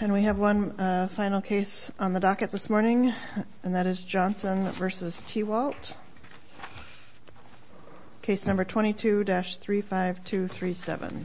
And we have one final case on the docket this morning, and that is Johnson v. Tewalt. Case number 22-35237.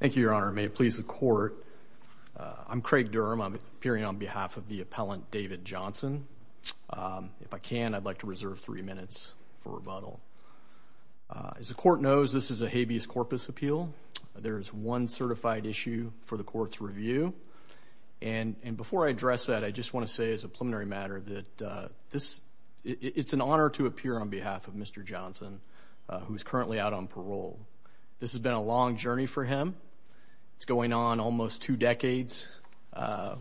Thank you, Your Honor, and may it please the Court, I'm Craig Durham. I'm appearing on behalf of the appellant, David Johnson. If I can, I'd like to reserve three minutes for rebuttal. As the Court knows, this is a habeas corpus appeal. There is one certified issue for the Court's review. And before I address that, I just want to say as a preliminary matter that it's an honor to appear on behalf of Mr. Johnson, who is currently out on parole. This has been a long journey for him. It's going on almost two decades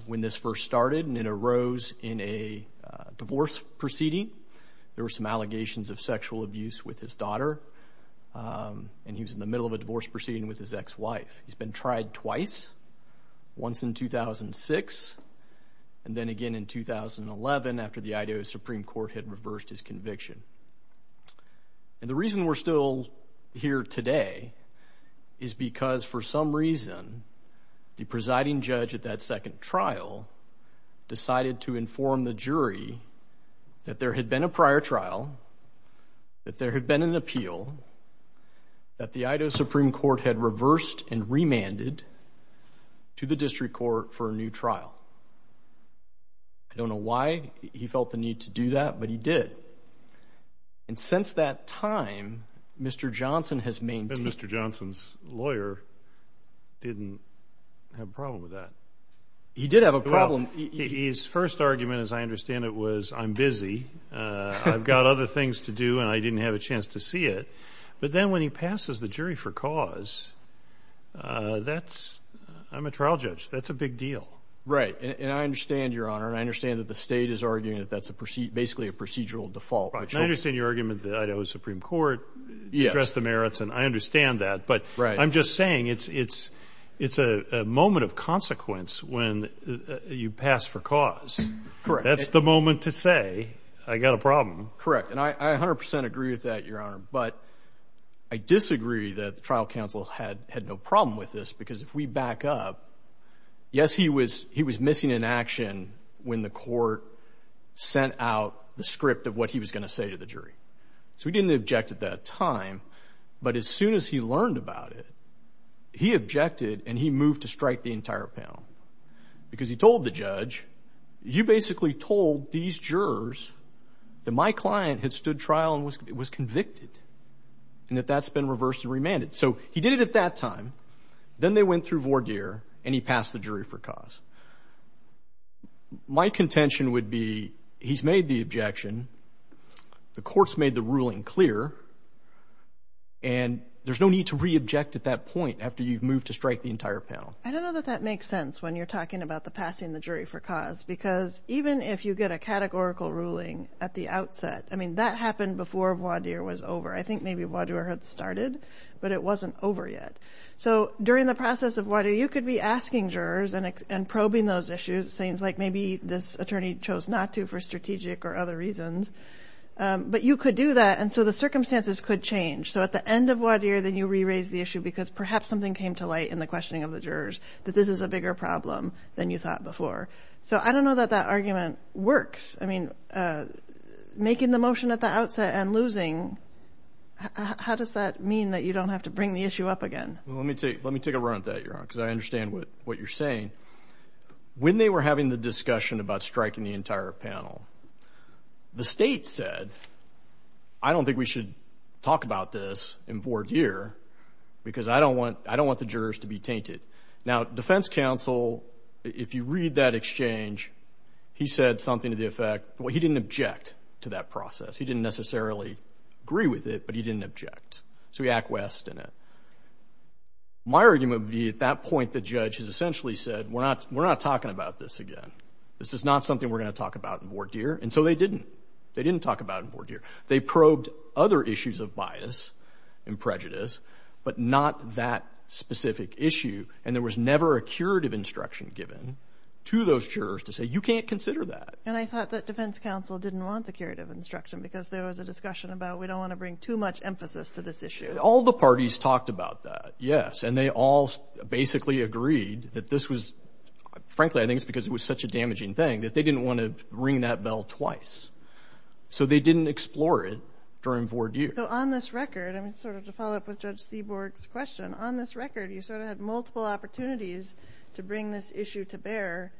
when this first started, and it arose in a divorce proceeding. There were some allegations of sexual abuse with his daughter, and he was in the middle of a divorce proceeding with his ex-wife. He's been tried twice, once in 2006, and then again in 2011 after the Idaho Supreme Court had reversed his conviction. And the reason we're still here today is because, for some reason, the presiding judge at that second trial decided to inform the jury that there had been a prior trial, that there had been an appeal that the Idaho Supreme Court had reversed and remanded to the district court for a new trial. I don't know why he felt the need to do that, but he did. And since that time, Mr. Johnson has maintained... And Mr. Johnson's lawyer didn't have a problem with that. He did have a problem. Well, his first argument, as I understand it, was, I'm busy, I've got other things to do, and I didn't have a chance to see it. But then when he passes the jury for cause, that's... I'm a trial judge. That's a big deal. Right. And I understand, Your Honor, and I understand that the state is arguing that that's basically a procedural default. And I understand your argument that the Idaho Supreme Court addressed the merits, and I understand that. But I'm just saying it's a moment of consequence when you pass for cause. That's the moment to say, I've got a problem. Correct. And I 100 percent agree with that, Your Honor. But I disagree that the trial counsel had no problem with this, because if we back up, yes, he was missing in action when the court sent out the script of what he was going to say to the jury. So he didn't object at that time. But as soon as he learned about it, he objected, and he moved to strike the entire panel. Because he told the judge, you basically told these jurors that my client had stood trial and was convicted, and that that's been reversed and remanded. So he did it at that time. Then they went through voir dire, and he passed the jury for cause. My contention would be, he's made the objection, the court's made the ruling clear, and there's no need to re-object at that point after you've moved to strike the entire panel. I don't know that that makes sense when you're talking about the passing the jury for cause. Because even if you get a categorical ruling at the outset, I mean, that happened before voir dire was over. I think maybe voir dire had started, but it wasn't over yet. So during the process of voir dire, you could be asking jurors and probing those issues. It seems like maybe this attorney chose not to for strategic or other reasons. But you could do that. And so the circumstances could change. So at the end of voir dire, then you re-raise the issue, because perhaps something came to light in the questioning of the jurors that this is a bigger problem than you thought before. So I don't know that that argument works. I mean, making the motion at the outset and losing, how does that mean that you don't have to bring the issue up again? Let me take a run at that, Your Honor, because I understand what you're saying. When they were having the discussion about striking the entire panel, the state said, I don't think we should talk about this in voir dire, because I don't want the jurors to be tainted. Now, defense counsel, if you read that exchange, he said something to the effect, well, he didn't object to that process. He didn't necessarily agree with it, but he didn't object. So he acquiesced in it. My argument would be, at that point, the judge has essentially said, we're not talking about this again. This is not something we're going to talk about in voir dire. And so they didn't. They didn't talk about it in voir dire. They probed other issues of bias and prejudice, but not that specific issue. And there was never a curative instruction given to those jurors to say, you can't consider that. And I thought that defense counsel didn't want the curative instruction, because there was a discussion about, we don't want to bring too much emphasis to this issue. All the parties talked about that, yes. And they all basically agreed that this was, frankly, I think it's because it was such a damaging thing that they didn't want to ring that bell twice. So they didn't explore it during voir dire. So on this record, I mean, sort of to follow up with Judge Seaborg's question, on this record, you sort of had multiple opportunities to bring this issue to bear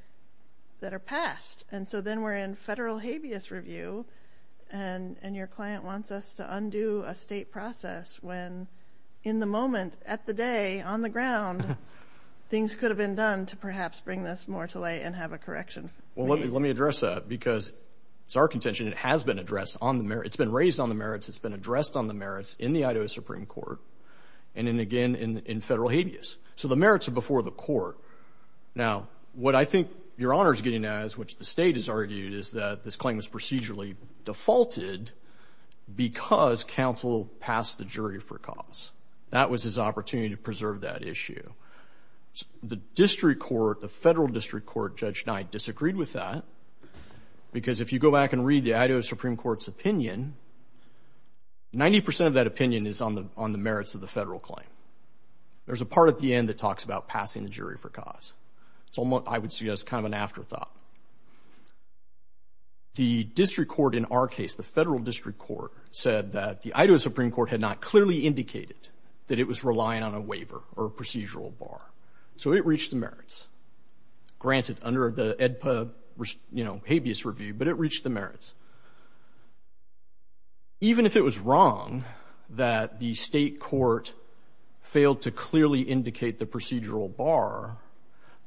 that are passed. And so then we're in federal habeas review, and your client wants us to undo a state process when in the moment, at the day, on the ground, things could have been done to perhaps bring this more to light and have a correction. Well, let me address that, because it's our contention, it has been addressed on the merits. It's been raised on the merits. It's been addressed on the merits in the Idaho Supreme Court, and then again in federal habeas. So the merits are before the court. Now, what I think Your Honor is getting at, as which the state has argued, is that this claim is procedurally defaulted because counsel passed the jury for cause. That was his opportunity to preserve that issue. The district court, the federal district court, Judge Knight, disagreed with that. Because if you go back and read the Idaho Supreme Court's opinion, 90% of that opinion is on the merits of the federal claim. There's a part at the end that talks about passing the jury for cause. So I would see that as kind of an afterthought. The district court in our case, the federal district court, said that the Idaho Supreme So it reached the merits, granted under the Habeas Review, but it reached the merits. Even if it was wrong that the state court failed to clearly indicate the procedural bar,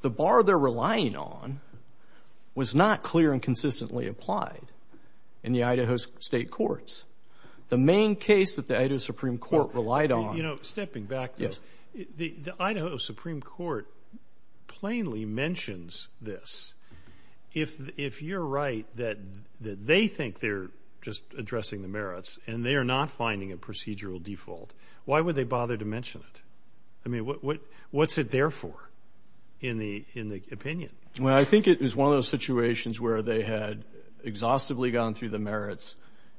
the bar they're relying on was not clear and consistently applied in the Idaho State Courts. The main case that the Idaho Supreme Court relied on You know, stepping back, though, the Idaho Supreme Court plainly mentions this. If you're right that they think they're just addressing the merits and they are not finding a procedural default, why would they bother to mention it? I mean, what's it there for in the opinion? Well, I think it was one of those situations where they had exhaustively gone through the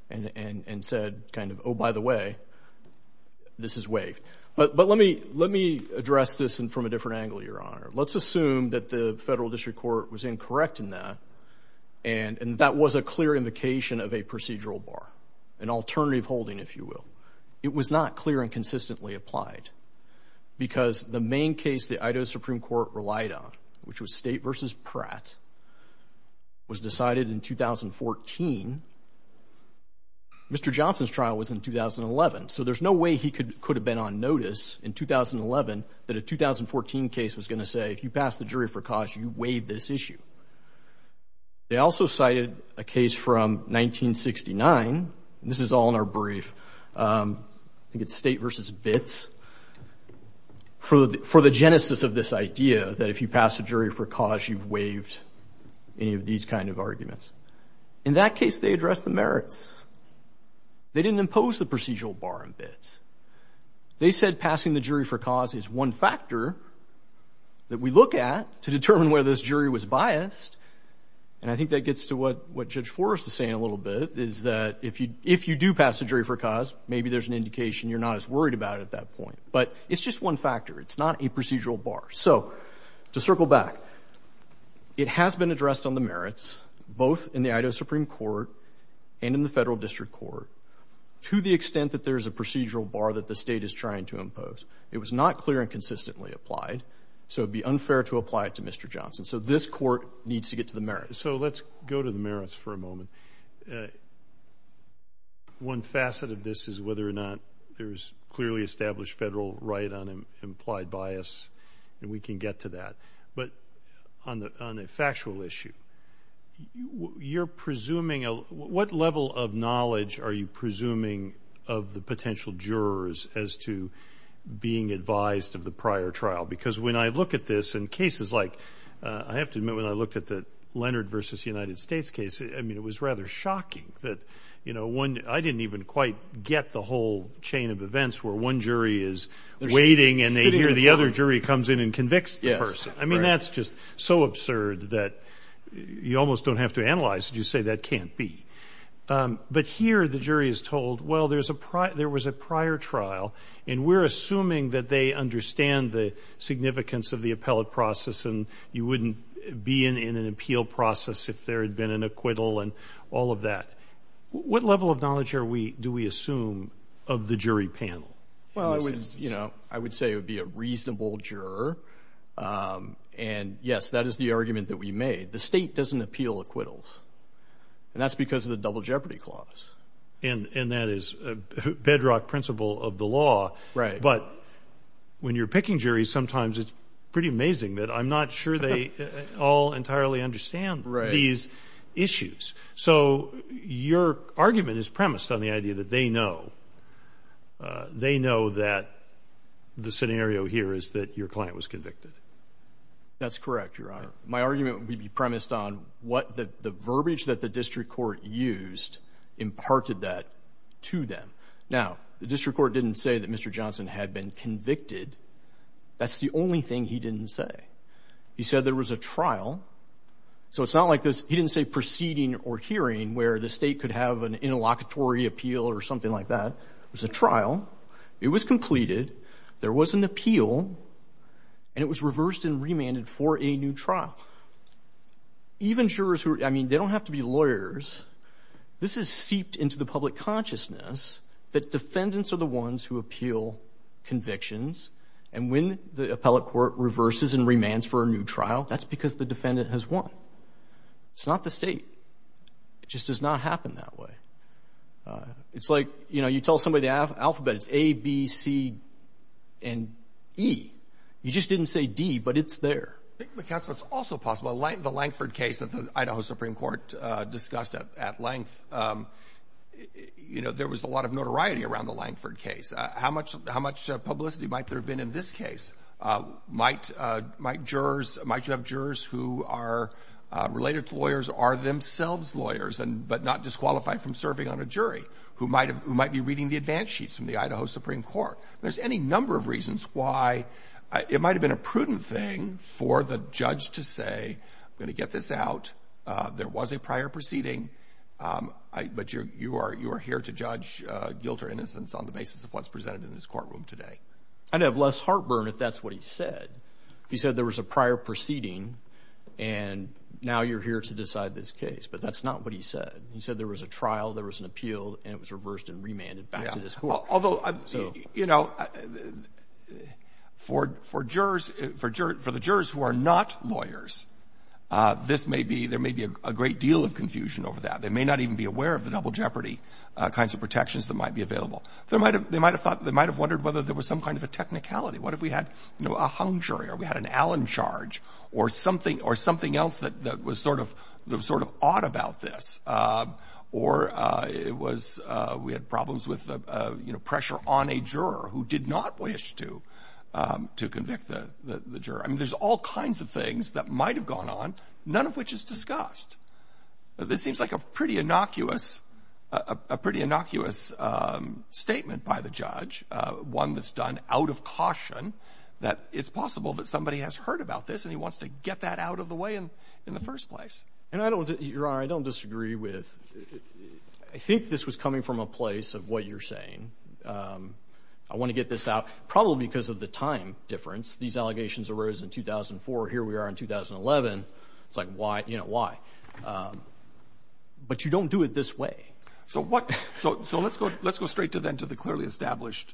and said kind of, oh, by the way, this is waived. But let me address this from a different angle, Your Honor. Let's assume that the federal district court was incorrect in that and that was a clear invocation of a procedural bar, an alternative holding, if you will. It was not clear and consistently applied because the main case the Idaho Supreme Court relied on, which was State v. Pratt, was decided in 2014. Mr. Johnson's trial was in 2011. So there's no way he could have been on notice in 2011 that a 2014 case was going to say, if you pass the jury for cause, you waive this issue. They also cited a case from 1969, and this is all in our brief, I think it's State v. Bitts, for the genesis of this idea that if you pass a jury for cause, you've waived any of these kind of arguments. In that case, they addressed the merits. They didn't impose the procedural bar on Bitts. They said passing the jury for cause is one factor that we look at to determine whether this jury was biased, and I think that gets to what Judge Forrest is saying a little bit, is that if you do pass the jury for cause, maybe there's an indication you're not as biased as you thought at that point. But it's just one factor. It's not a procedural bar. So to circle back, it has been addressed on the merits, both in the Idaho Supreme Court and in the Federal District Court, to the extent that there's a procedural bar that the State is trying to impose. It was not clear and consistently applied, so it would be unfair to apply it to Mr. Johnson. So this Court needs to get to the merits. So let's go to the merits for a moment. One facet of this is whether or not there's clearly established federal right on implied bias, and we can get to that. But on the factual issue, you're presuming a – what level of knowledge are you presuming of the potential jurors as to being advised of the prior trial? Because when I look at this in cases like – I have to admit, when I looked at the trial, it was rather shocking that, you know, one – I didn't even quite get the whole chain of events where one jury is waiting and they hear the other jury comes in and convicts the person. Yes. Right. I mean, that's just so absurd that you almost don't have to analyze it. You say that can't be. But here the jury is told, well, there was a prior trial, and we're assuming that they understand the significance of the appellate process and you wouldn't be in an appeal process if there had been an acquittal and all of that. What level of knowledge are we – do we assume of the jury panel? Well, I would – you know, I would say it would be a reasonable juror. And yes, that is the argument that we made. The state doesn't appeal acquittals, and that's because of the Double Jeopardy Clause. And that is a bedrock principle of the law. Right. But when you're picking juries, sometimes it's pretty amazing that I'm not sure they all entirely understand these issues. So your argument is premised on the idea that they know. They know that the scenario here is that your client was convicted. That's correct, Your Honor. My argument would be premised on what the verbiage that the district court used imparted that to them. Now, the district court didn't say that Mr. Johnson had been convicted. That's the only thing he didn't say. He said there was a trial. So it's not like this – he didn't say proceeding or hearing where the state could have an interlocutory appeal or something like that. It was a trial. It was completed. There was an appeal, and it was reversed and remanded for a new trial. Even jurors who – I mean, they don't have to be lawyers. This is seeped into the public consciousness that defendants are the ones who appeal convictions. And when the appellate court reverses and remands for a new trial, that's because the defendant has won. It's not the state. It just does not happen that way. It's like, you know, you tell somebody the alphabet. It's A, B, C, and E. You just didn't say D, but it's there. I think, counsel, it's also possible – the Lankford case that the Idaho Supreme Court discussed at length – you know, there was a lot of notoriety around the Lankford case. How much publicity might there have been in this case? Might jurors – might you have jurors who are related to lawyers, are themselves lawyers, but not disqualified from serving on a jury, who might be reading the advance sheets from the Idaho Supreme Court? There's any number of reasons why it might have been a prudent thing for the judge to say, I'm going to get this out. There was a prior proceeding, but you are here to judge guilt or innocence on the basis of what's presented in this courtroom today. I'd have less heartburn if that's what he said. He said there was a prior proceeding, and now you're here to decide this case. But that's not what he said. He said there was a trial, there was an appeal, and it was reversed and remanded back to this court. Yeah. Although, you know, for jurors – for the jurors who are not lawyers, this may be – there may be a great deal of confusion over that. They may not even be aware of the double jeopardy kinds of protections that might be available. There might have – they might have thought – they might have wondered whether there was some kind of a technicality. What if we had, you know, a Hung jury or we had an Allen charge or something – or something else that was sort of – that was sort of odd about this? Or it was – we had problems with, you know, pressure on a juror who did not wish to convict the juror. I mean, there's all kinds of things that might have gone on, none of which is discussed. This seems like a pretty innocuous – a pretty innocuous statement by the judge, one that's done out of caution, that it's possible that somebody has heard about this and he wants to get that out of the way in the first place. And I don't – Your Honor, I don't disagree with – I think this was coming from a place of what you're saying. I want to get this out, probably because of the time difference. These allegations arose in 2004. Here we are in 2011. It's like, why – you know, why? But you don't do it this way. So what – so let's go – let's go straight to then to the clearly established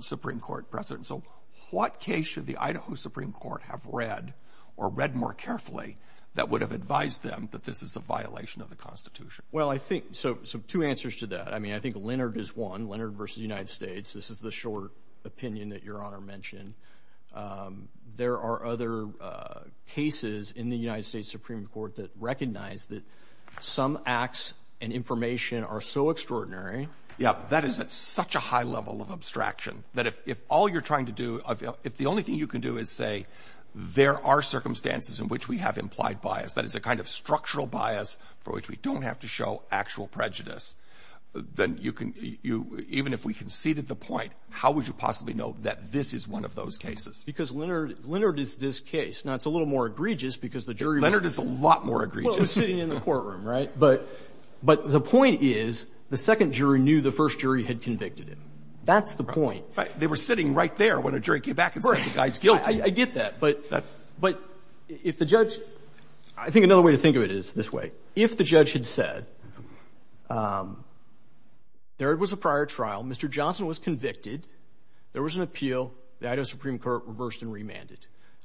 Supreme Court precedent. So what case should the Idaho Supreme Court have read or read more carefully that would have advised them that this is a violation of the Constitution? Well I think – so two answers to that. I mean, I think Leonard is one, Leonard v. United States. This is the short opinion that Your Honor mentioned. And there are other cases in the United States Supreme Court that recognize that some acts and information are so extraordinary – Yeah, that is at such a high level of abstraction that if all you're trying to do – if the only thing you can do is say there are circumstances in which we have implied bias, that is a kind of structural bias for which we don't have to show actual prejudice, then you can – even if we conceded the point, how would you possibly know that this is one of those cases? Because Leonard – Leonard is this case. Now, it's a little more egregious because the jury – Leonard is a lot more egregious. Well, it was sitting in the courtroom, right? But the point is the second jury knew the first jury had convicted him. That's the point. Right. They were sitting right there when a jury came back and said the guy's guilty. I get that. But – That's – But if the judge – I think another way to think of it is this way. If the judge had said there was a prior trial, Mr. Johnson was convicted, there was an appeal, the Idaho Supreme Court reversed and remanded,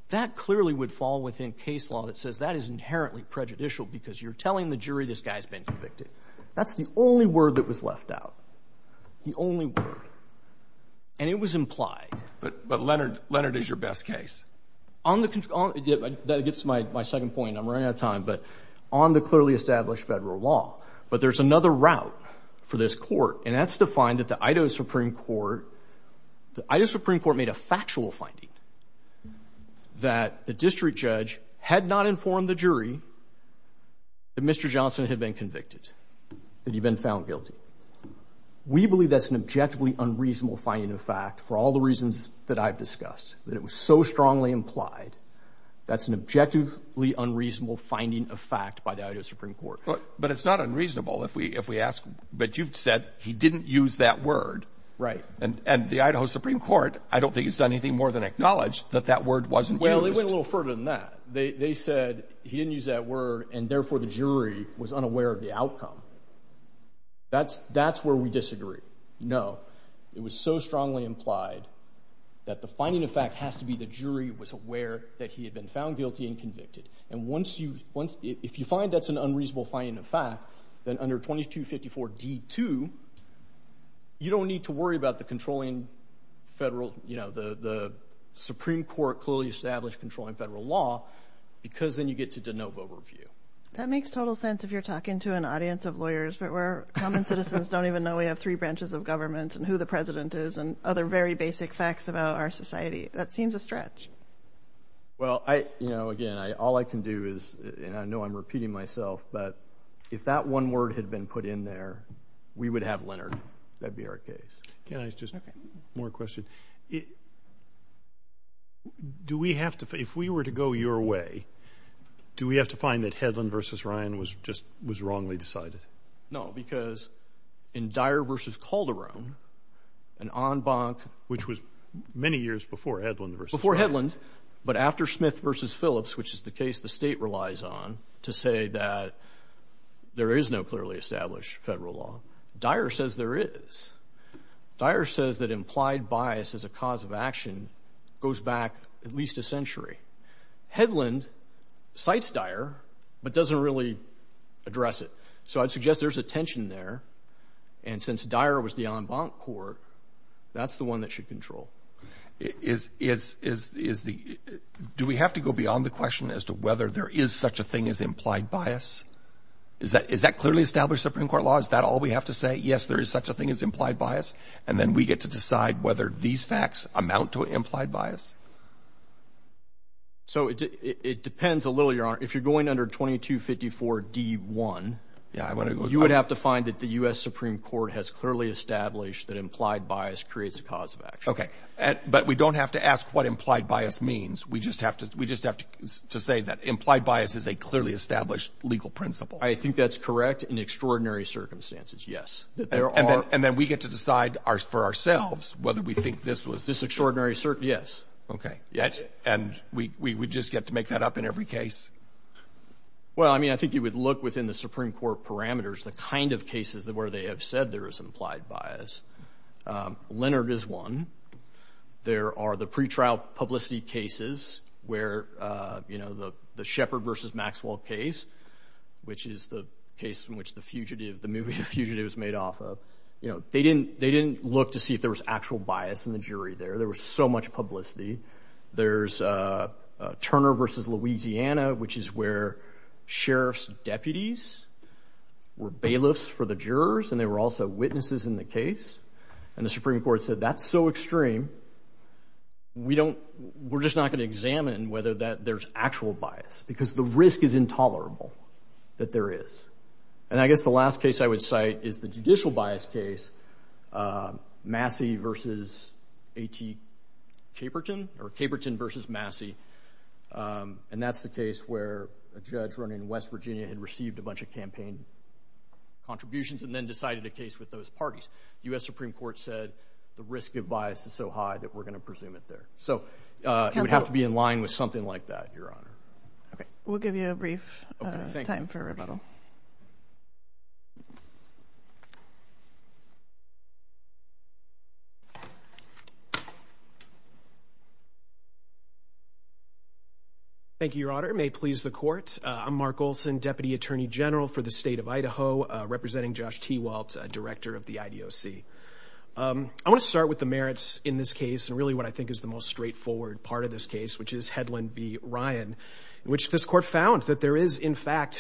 that clearly would fall within case law that says that is inherently prejudicial because you're telling the jury this guy's been convicted. That's the only word that was left out. The only word. And it was implied. But Leonard – Leonard is your best case. On the – that gets to my second point. I'm running out of time. But on the clearly established federal law. But there's another route for this court, and that's to find that the Idaho Supreme Court – the Idaho Supreme Court made a factual finding that the district judge had not informed the jury that Mr. Johnson had been convicted, that he'd been found guilty. We believe that's an objectively unreasonable finding of fact for all the reasons that I've discussed. That it was so strongly implied. That's an objectively unreasonable finding of fact by the Idaho Supreme Court. But it's not unreasonable if we – if we ask – but you've said he didn't use that word. Right. And the Idaho Supreme Court, I don't think it's done anything more than acknowledge that that word wasn't used. Well, it went a little further than that. They said he didn't use that word, and therefore the jury was unaware of the outcome. That's where we disagree. No. It was so strongly implied that the finding of fact has to be the jury was aware that he had been found guilty and convicted. And once you – if you find that's an unreasonable finding of fact, then under 2254D2, you don't need to worry about the controlling federal – you know, the Supreme Court clearly established controlling federal law, because then you get to de novo review. That makes total sense if you're talking to an audience of lawyers, but we're – common and other very basic facts about our society. That seems a stretch. Well, I – you know, again, I – all I can do is – and I know I'm repeating myself, but if that one word had been put in there, we would have Leonard. That'd be our case. Can I just – more question. Do we have to – if we were to go your way, do we have to find that Hedlund versus Ryan was just – was wrongly decided? No, because in Dyer versus Calderon, an en banc – Which was many years before Hedlund versus Ryan. Before Hedlund, but after Smith versus Phillips, which is the case the State relies on to say that there is no clearly established federal law, Dyer says there is. Dyer says that implied bias as a cause of action goes back at least a century. Hedlund cites Dyer, but doesn't really address it. So I'd suggest there's a tension there. And since Dyer was the en banc court, that's the one that should control. Is – do we have to go beyond the question as to whether there is such a thing as implied bias? Is that clearly established Supreme Court law? Is that all we have to say? Yes, there is such a thing as implied bias? And then we get to decide whether these facts amount to implied bias? So it depends a little, Your Honor. If you're going under 2254d-1, you would have to find that the U.S. Supreme Court has clearly established that implied bias creates a cause of action. Okay. But we don't have to ask what implied bias means. We just have to say that implied bias is a clearly established legal principle. I think that's correct in extraordinary circumstances, yes. And then we get to decide for ourselves whether we think this was – This extraordinary – yes. Okay. And we would just get to make that up in every case? Well, I mean, I think you would look within the Supreme Court parameters, the kind of cases where they have said there is implied bias. Leonard is one. There are the pretrial publicity cases where, you know, the Shepard v. Maxwell case, which is the case in which the fugitive – the movie The Fugitive is made off of, you know, they didn't look to see if there was actual bias in the jury there. There was so much publicity. There's Turner v. Louisiana, which is where sheriff's deputies were bailiffs for the jurors and they were also witnesses in the case. And the Supreme Court said that's so extreme, we don't – we're just not going to examine whether that – there's actual bias, because the risk is intolerable that there is. And I guess the last case I would cite is the judicial bias case, Massey v. A.T. Caperton, or Caperton v. Massey, and that's the case where a judge running West Virginia had received a bunch of campaign contributions and then decided a case with those parties. The U.S. Supreme Court said the risk of bias is so high that we're going to presume it there. So it would have to be in line with something like that, Your Honor. Okay. We'll give you a brief time for rebuttal. Thank you, Your Honor. May it please the Court. I'm Mark Olson, Deputy Attorney General for the State of Idaho, representing Josh T. Waltz, Director of the IDOC. I want to start with the merits in this case and really what I think is the most straightforward part of this case, which is Hedlund v. Ryan, in which this Court found that there is, in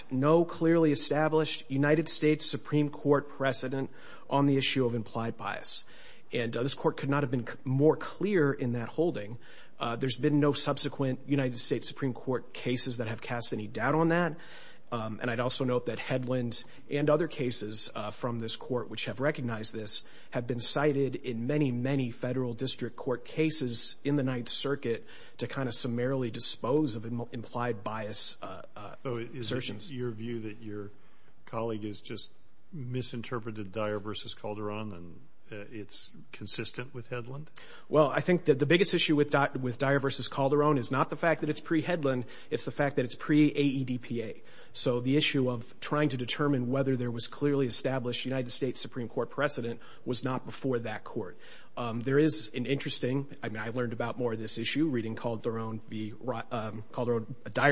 nearly established United States Supreme Court precedent on the issue of implied bias. And this Court could not have been more clear in that holding. There's been no subsequent United States Supreme Court cases that have cast any doubt on that. And I'd also note that Hedlund and other cases from this Court which have recognized this have been cited in many, many federal district court cases in the Ninth Circuit to kind of summarily dispose of implied bias assertions. Is your view that your colleague has just misinterpreted Dyer v. Calderon and it's consistent with Hedlund? Well, I think that the biggest issue with Dyer v. Calderon is not the fact that it's pre-Hedlund, it's the fact that it's pre-AEDPA. So the issue of trying to determine whether there was clearly established United States Supreme Court precedent was not before that Court. There is an interesting, I mean, I learned about more of this issue reading Dyer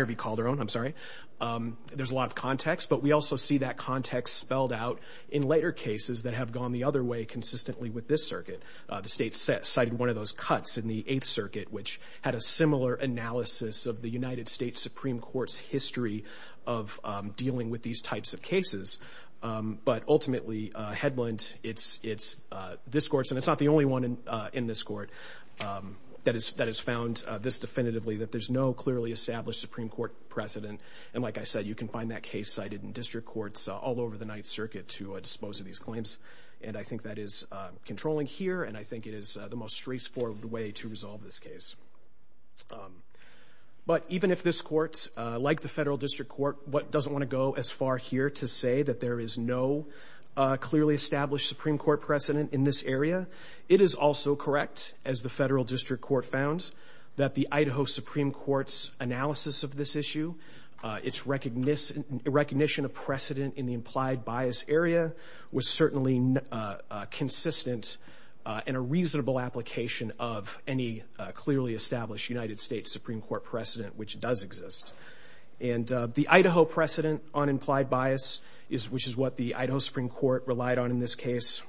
v. Calderon. I'm sorry. There's a lot of context. But we also see that context spelled out in later cases that have gone the other way consistently with this circuit. The state cited one of those cuts in the Eighth Circuit which had a similar analysis of the United States Supreme Court's history of dealing with these types of cases. But ultimately, Hedlund, it's this Court's, and it's not the only one in this Court, that has found this definitively, that there's no clearly established Supreme Court precedent. And like I said, you can find that case cited in district courts all over the Ninth Circuit to dispose of these claims. And I think that is controlling here, and I think it is the most straightforward way to resolve this case. But even if this Court, like the Federal District Court, doesn't want to go as far here to say that there is no clearly established Supreme Court precedent in this area, it is also correct, as the Federal District Court found, that the Idaho Supreme Court's analysis of this issue, its recognition of precedent in the implied bias area, was certainly consistent in a reasonable application of any clearly established United States Supreme Court precedent which does exist. And the Idaho precedent on implied bias, which is what the Idaho Supreme Court relied on in this case,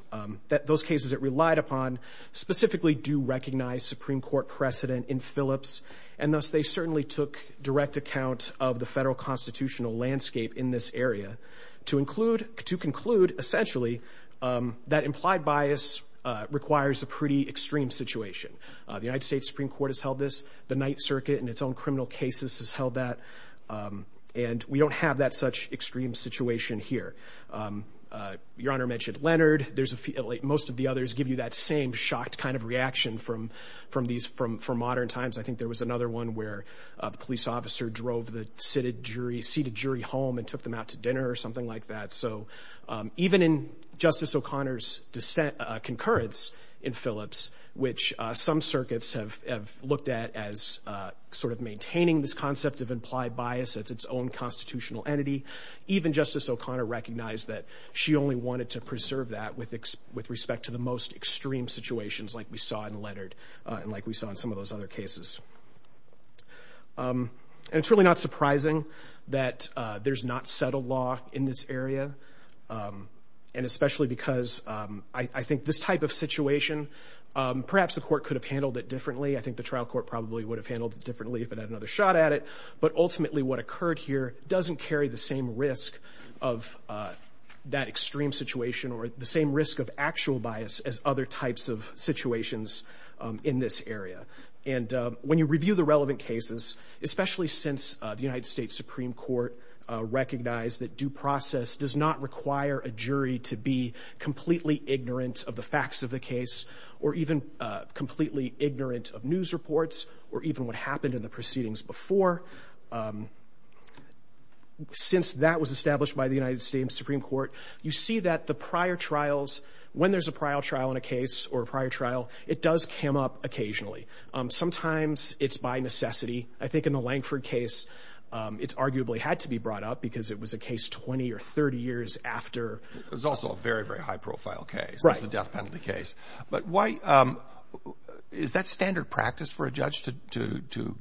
those cases it relied upon, specifically do recognize Supreme Court precedent in Phillips, and thus they certainly took direct account of the Federal constitutional landscape in this area, to conclude, essentially, that implied bias requires a pretty extreme situation. The United States Supreme Court has held this. The Ninth Circuit, in its own criminal cases, has held that. And we don't have that such extreme situation here. Your Honor mentioned Leonard. Most of the others give you that same shocked kind of reaction from modern times. I think there was another one where the police officer drove the seated jury home and took them out to dinner or something like that. So even in Justice O'Connor's concurrence in Phillips, which some circuits have looked at as sort of maintaining this concept of implied bias as its own constitutional entity, even Justice O'Connor recognized that she only wanted to preserve that with respect to the most extreme situations like we saw in Leonard and like we saw in some of those other cases. And it's really not surprising that there's not settled law in this area, and especially because I think this type of situation, perhaps the court could have handled it differently. I think the trial court probably would have handled it differently if it had another shot at it. But ultimately what occurred here doesn't carry the same risk of that extreme situation or the same risk of actual bias as other types of situations in this area. And when you review the relevant cases, especially since the United States Supreme Court recognized that due process does not require a jury to be completely ignorant of the facts of the case. Since that was established by the United States Supreme Court, you see that the prior trials, when there's a prior trial in a case or a prior trial, it does come up occasionally. Sometimes it's by necessity. I think in the Lankford case, it arguably had to be brought up because it was a case 20 or 30 years after. It was also a very, very high-profile case. Right. It was a death penalty case. But why, is that standard practice for a judge to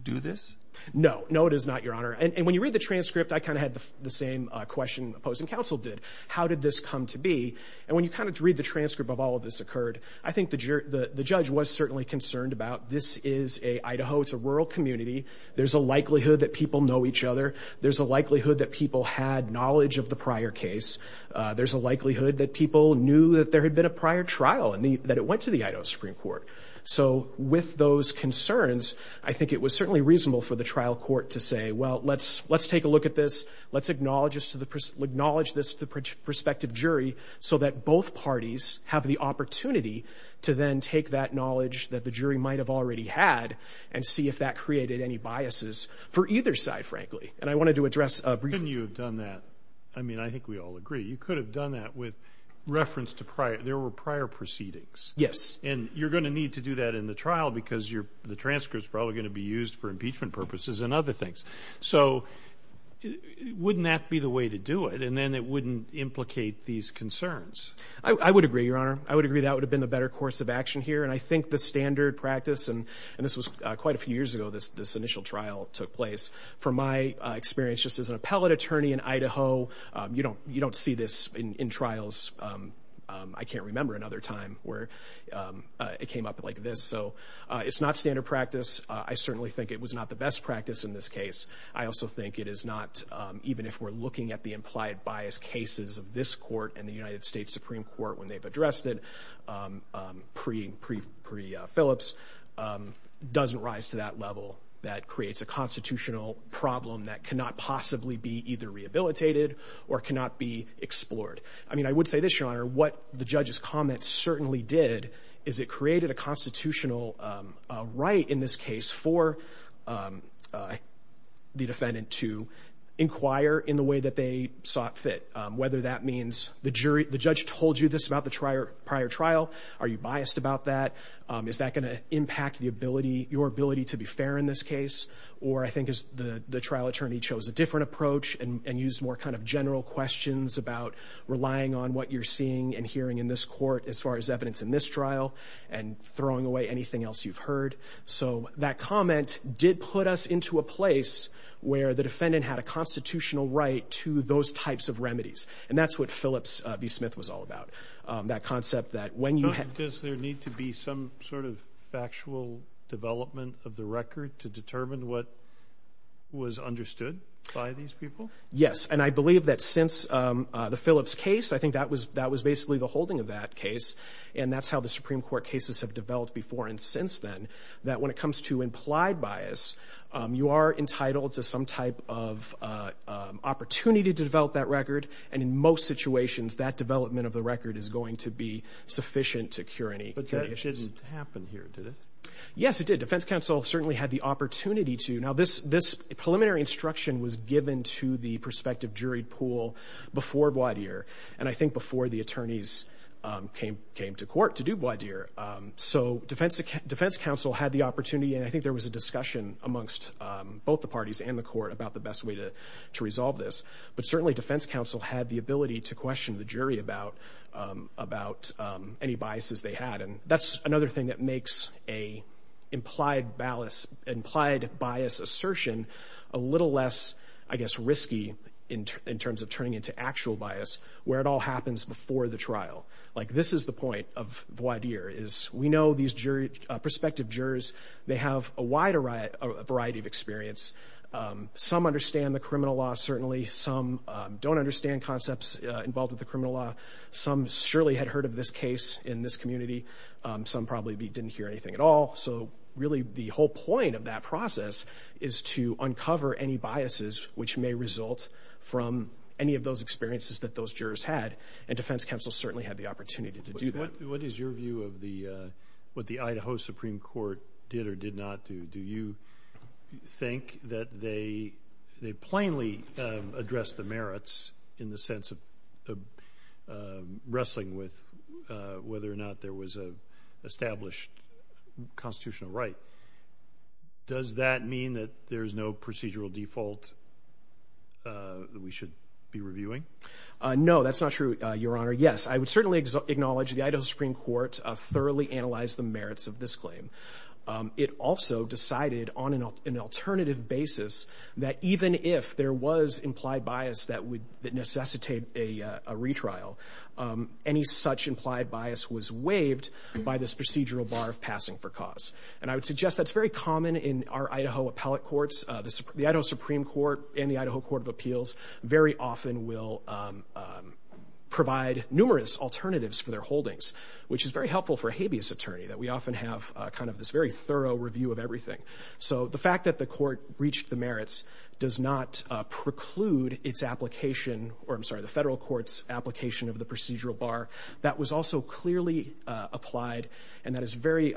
do this? No. No, it is not, Your Honor. And when you read the transcript, I kind of had the same question opposing counsel did. How did this come to be? And when you kind of read the transcript of all of this occurred, I think the judge was certainly concerned about this is a Idaho, it's a rural community. There's a likelihood that people know each other. There's a likelihood that people had knowledge of the prior case. There's a likelihood that people knew that there had been a prior trial and that it went to the Idaho Supreme Court. So with those concerns, I think it was certainly reasonable for the trial court to say, well, let's take a look at this. Let's acknowledge this to the prospective jury so that both parties have the opportunity to then take that knowledge that the jury might have already had and see if that created any biases for either side, frankly. And I wanted to address a brief question. Couldn't you have done that? I mean, I think we all agree. You could have done that with reference to prior, there were prior proceedings. Yes. And you're going to need to do that in the trial because the transcript is probably going to be used for impeachment purposes and other things. So wouldn't that be the way to do it? And then it wouldn't implicate these concerns. I would agree, Your Honor. I would agree that would have been the better course of action here. And I think the standard practice, and this was quite a few years ago, this initial trial took place. From my experience just as an appellate attorney in Idaho, you don't see this in trials. I can't remember another time where it came up like this. So it's not standard practice. I certainly think it was not the best practice in this case. I also think it is not, even if we're looking at the implied bias cases of this court and the United States Supreme Court when they've addressed it pre Phillips, doesn't rise to that level. That creates a constitutional problem that cannot possibly be either rehabilitated or cannot be explored. I mean, I would say this, Your Honor, what the judge's comments certainly did is it created a constitutional right in this case for the defendant to inquire in the way that they sought fit, whether that means the jury, the judge told you this about the prior trial. Are you biased about that? Is that going to impact the ability, your ability to be fair in this case? Or I think as the trial attorney chose a different approach and used more kind of general questions about relying on what you're seeing and hearing in this court as far as evidence in this trial and throwing away anything else you've heard. So that comment did put us into a place where the defendant had a constitutional right to those types of remedies. And that's what Phillips v. Smith was all about. That concept that when you have... Does there need to be some sort of factual development of the record to determine what was understood by these people? Yes. And I believe that since the Phillips case, I think that was basically the holding of that case. And that's how the Supreme Court cases have developed before and since then. That when it comes to implied bias, you are entitled to some type of opportunity to develop that record. And in most situations, that development of the record is going to be sufficient to cure any issues. But that didn't happen here, did it? Yes, it did. Defense counsel certainly had the opportunity to. Now, this preliminary instruction was given to the prospective jury pool before Bois d'Ire. And I think before the attorneys came to court to do Bois d'Ire. So defense counsel had the opportunity, and I think there was a discussion amongst both the parties and the court about the best way to resolve this. But certainly defense counsel had the ability to question the jury about any biases they had. And that's another thing that makes an implied bias assertion a little less, I guess, risky in terms of turning into actual bias, where it all happens before the trial. Like this is the point of Bois d'Ire, is we know these prospective jurors, they have a wide variety of experience. Some understand the criminal law, certainly. Some don't understand concepts involved with the criminal law. Some surely had heard of this case in this community. Some probably didn't hear anything at all. So really the whole point of that process is to uncover any biases which may result from any of those experiences that those jurors had. And defense counsel certainly had the opportunity to do that. What is your view of what the Idaho Supreme Court did or did not do? Do you think that they plainly addressed the merits in the sense of wrestling with whether or not there was an established constitutional right? Does that mean that there's no procedural default that we should be reviewing? No, that's not true, Your Honor. Yes, I would certainly acknowledge the Idaho Supreme Court thoroughly analyzed the merits of this claim. It also decided on an alternative basis that even if there was implied bias that necessitated a retrial, any such implied bias was waived by this procedural bar of passing for cause. And I would suggest that's very common in our Idaho appellate courts. The Idaho Supreme Court and the Idaho Court of Appeals very often will provide numerous alternatives for their holdings, which is very helpful for a habeas attorney that we often have kind of this very thorough review of everything. So the fact that the court breached the merits does not preclude its application, or I'm sorry, the federal court's application of the procedural bar. That was also clearly applied, and that is very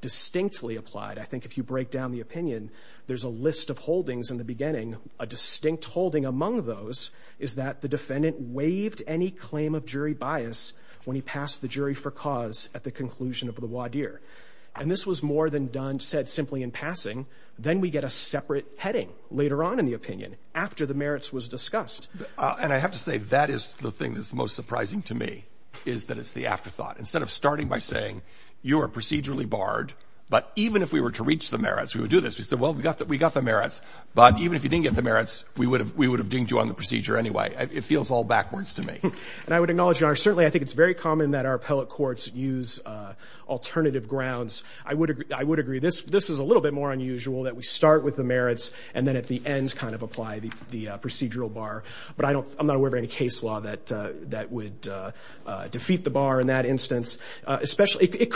distinctly applied. I think if you break down the opinion, there's a list of holdings in the beginning. A distinct holding among those is that the defendant waived any claim of jury bias when he passed the jury for cause at the conclusion of the wadir. And this was more than done, said simply in passing. Then we get a separate heading later on in the opinion after the merits was discussed. And I have to say, that is the thing that's the most surprising to me, is that it's the afterthought. Instead of starting by saying you are procedurally barred, but even if we were to reach the merits, we would do this. We said, well, we got the merits, but even if you didn't get the merits, we would have dinged you on the procedure anyway. It feels all backwards to me. And I would acknowledge, Your Honor, certainly I think it's very common that our appellate courts use alternative grounds. I would agree. This is a little bit more unusual, that we start with the merits and then at the end kind of apply the procedural bar. But I'm not aware of any case law that would defeat the bar in that instance. Especially, it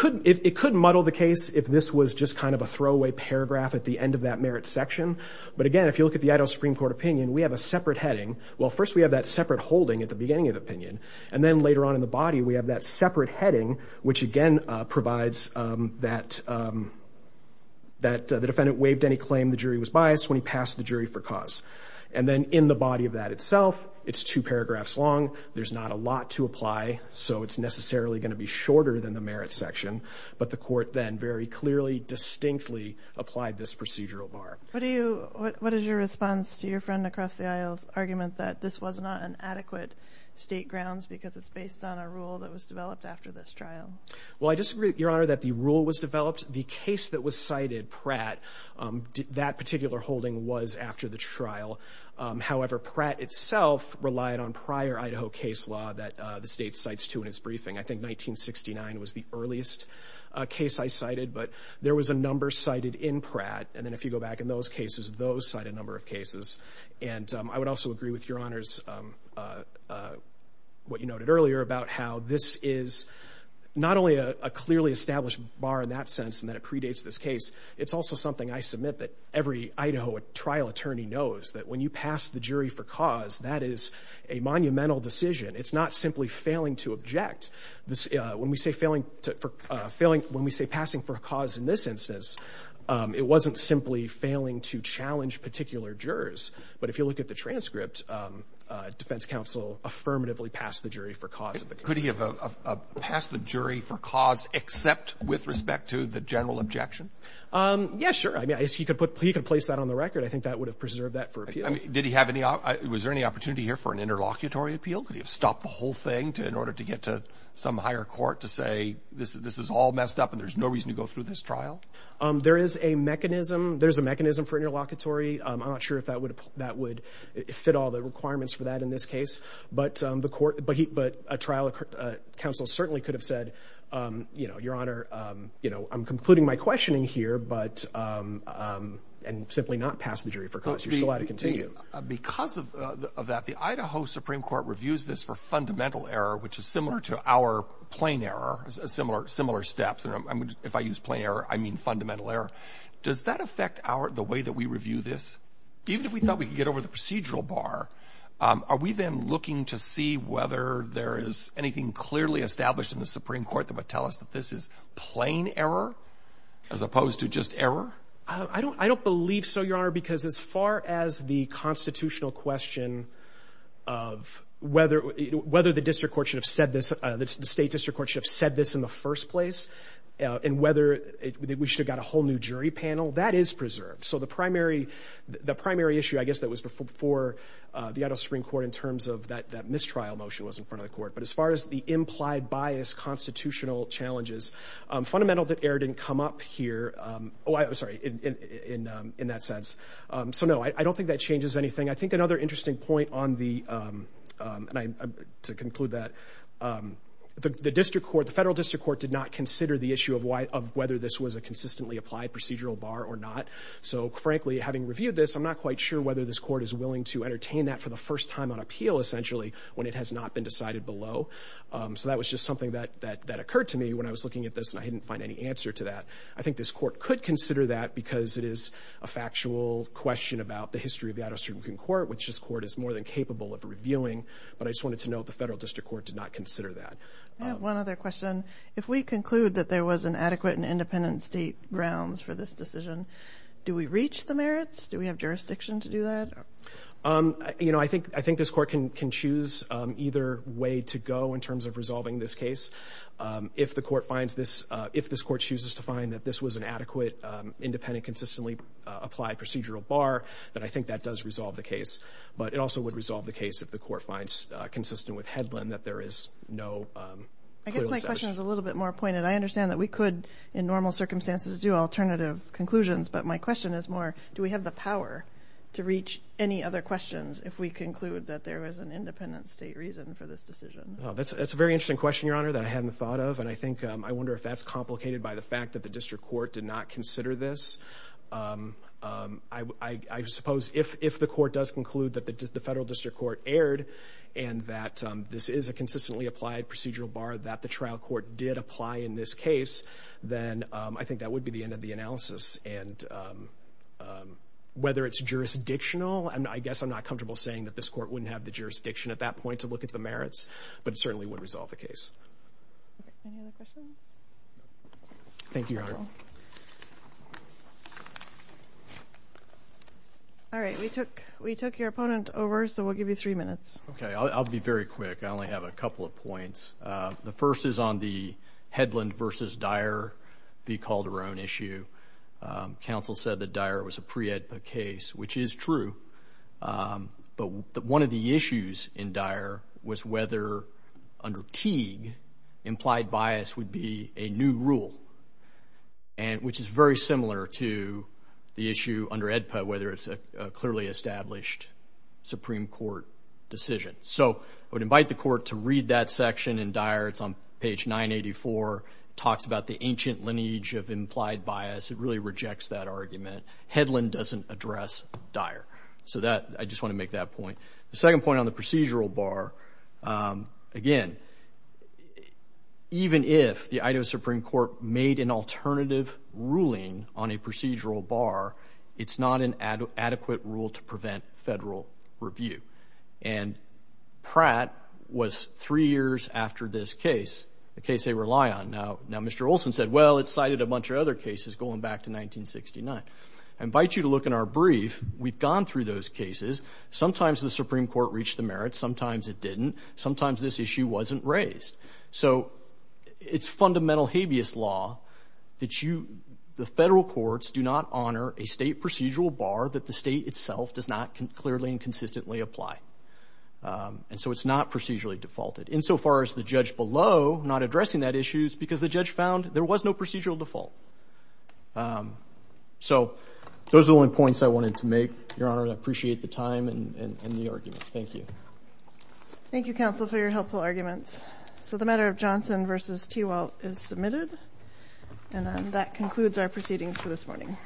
could muddle the case if this was just kind of a throwaway paragraph at the end of that merits section. But again, if you look at the Idaho Supreme Court opinion, we have a separate heading. Well, first we have that separate holding at the beginning of the opinion. And then later on in the body, we have that separate heading, which again provides that the defendant waived any claim the jury was biased when he passed the jury for cause. And then in the body of that itself, it's two paragraphs long. There's not a lot to apply, so it's necessarily going to be shorter than the merits section. But the court then very clearly, distinctly applied this procedural bar. What is your response to your friend across the aisle's argument that this was not an adequate state grounds because it's based on a rule that was developed after this trial? Well, I disagree, Your Honor, that the rule was developed. The case that was cited, Pratt, that particular holding was after the trial. However, Pratt itself relied on prior Idaho case law that the state cites to in its briefing. I think 1969 was the earliest case I cited. But there was a number cited in Pratt. And then if you go back in those cases, those cite a number of cases. And I would also agree with Your Honor's what you noted earlier about how this is not only a clearly established bar in that sense and that it predates this case. It's also something I submit that every Idaho trial attorney knows, that when you pass the jury for cause, that is a monumental decision. It's not simply failing to object. When we say passing for a cause in this instance, it wasn't simply failing to challenge particular jurors. But if you look at the transcript, defense counsel affirmatively passed the jury for cause of the case. Could he have passed the jury for cause except with respect to the general objection? Yeah, sure, I mean, he could place that on the record. I think that would have preserved that for appeal. Did he have any, was there any opportunity here for an interlocutory appeal? Could he have stopped the whole thing in order to get to some higher court to say this is all messed up and there's no reason to go through this trial? There is a mechanism. There's a mechanism for interlocutory. I'm not sure if that would fit all the requirements for that in this case. But a trial counsel certainly could have said, your honor, I'm concluding my questioning here and simply not pass the jury for cause. You're still allowed to continue. Because of that, the Idaho Supreme Court reviews this for fundamental error, which is similar to our plain error, similar steps. If I use plain error, I mean fundamental error. Does that affect the way that we review this? Even if we thought we could get over the procedural bar, are we then looking to see whether there is anything clearly established in the Supreme Court that would tell us that this is plain error as opposed to just error? I don't believe so, your honor. Because as far as the constitutional question of whether the district court should have said this in the first place, and whether we should have got a whole new jury panel, that is preserved. So the primary issue, I guess, that was before the Idaho Supreme Court in terms of that mistrial motion was in front of the court. But as far as the implied bias constitutional challenges, fundamental error didn't come up here, sorry, in that sense. So no, I don't think that changes anything. I think another interesting point on the, and to conclude that, the federal district court did not consider the issue of whether this was a consistently applied procedural bar or not. So frankly, having reviewed this, I'm not quite sure whether this court is willing to entertain that for the first time on appeal, essentially, when it has not been decided below. So that was just something that occurred to me when I was looking at this and I didn't find any answer to that. I think this court could consider that because it is a factual question about the history of the Idaho Supreme Court, which this court is more than capable of reviewing, but I just wanted to note the federal district court did not consider that. I have one other question. If we conclude that there was an adequate and independent state grounds for this decision, do we reach the merits? Do we have jurisdiction to do that? I think this court can choose either way to go in terms of resolving this case. Independent consistently applied procedural bar, that I think that does resolve the case. But it also would resolve the case if the court finds consistent with Hedlund that there is no. I guess my question is a little bit more pointed. I understand that we could, in normal circumstances, do alternative conclusions. But my question is more, do we have the power to reach any other questions if we conclude that there was an independent state reason for this decision? That's a very interesting question, Your Honor, that I hadn't thought of. And I think, I wonder if that's complicated by the fact that the district court did not consider this. I suppose if the court does conclude that the federal district court erred and that this is a consistently applied procedural bar that the trial court did apply in this case, then I think that would be the end of the analysis. And whether it's jurisdictional, and I guess I'm not comfortable saying that this court wouldn't have the jurisdiction at that point to look at the merits. But it certainly would resolve the case. Any other questions? Thank you, Your Honor. All right, we took your opponent over, so we'll give you three minutes. Okay, I'll be very quick. I only have a couple of points. The first is on the Hedlund versus Dyer v. Calderon issue. Counsel said that Dyer was a pre-EDPA case, which is true. But one of the issues in Dyer was whether, under Teague, implied bias would be a new rule, which is very similar to the issue under EDPA, whether it's a clearly established Supreme Court decision. So I would invite the court to read that section in Dyer. It's on page 984, talks about the ancient lineage of implied bias. It really rejects that argument. Hedlund doesn't address Dyer. So I just want to make that point. The second point on the procedural bar, again, even if the Idaho Supreme Court made an alternative ruling on a procedural bar, it's not an adequate rule to prevent federal review. And Pratt was three years after this case, the case they rely on. Now, Mr. Olson said, well, it cited a bunch of other cases going back to 1969. I invite you to look in our brief. We've gone through those cases. Sometimes the Supreme Court reached the merits. Sometimes it didn't. Sometimes this issue wasn't raised. So it's fundamental habeas law that the federal courts do not honor a state procedural bar that the state itself does not clearly and consistently apply, and so it's not procedurally defaulted, insofar as the judge below, not addressing that issue, is because the judge found there was no procedural default. So those are the only points I wanted to make, Your Honor. I appreciate the time and the argument. Thank you. Thank you, counsel, for your helpful arguments. So the matter of Johnson v. Tewalt is submitted, and that concludes our proceedings for this morning.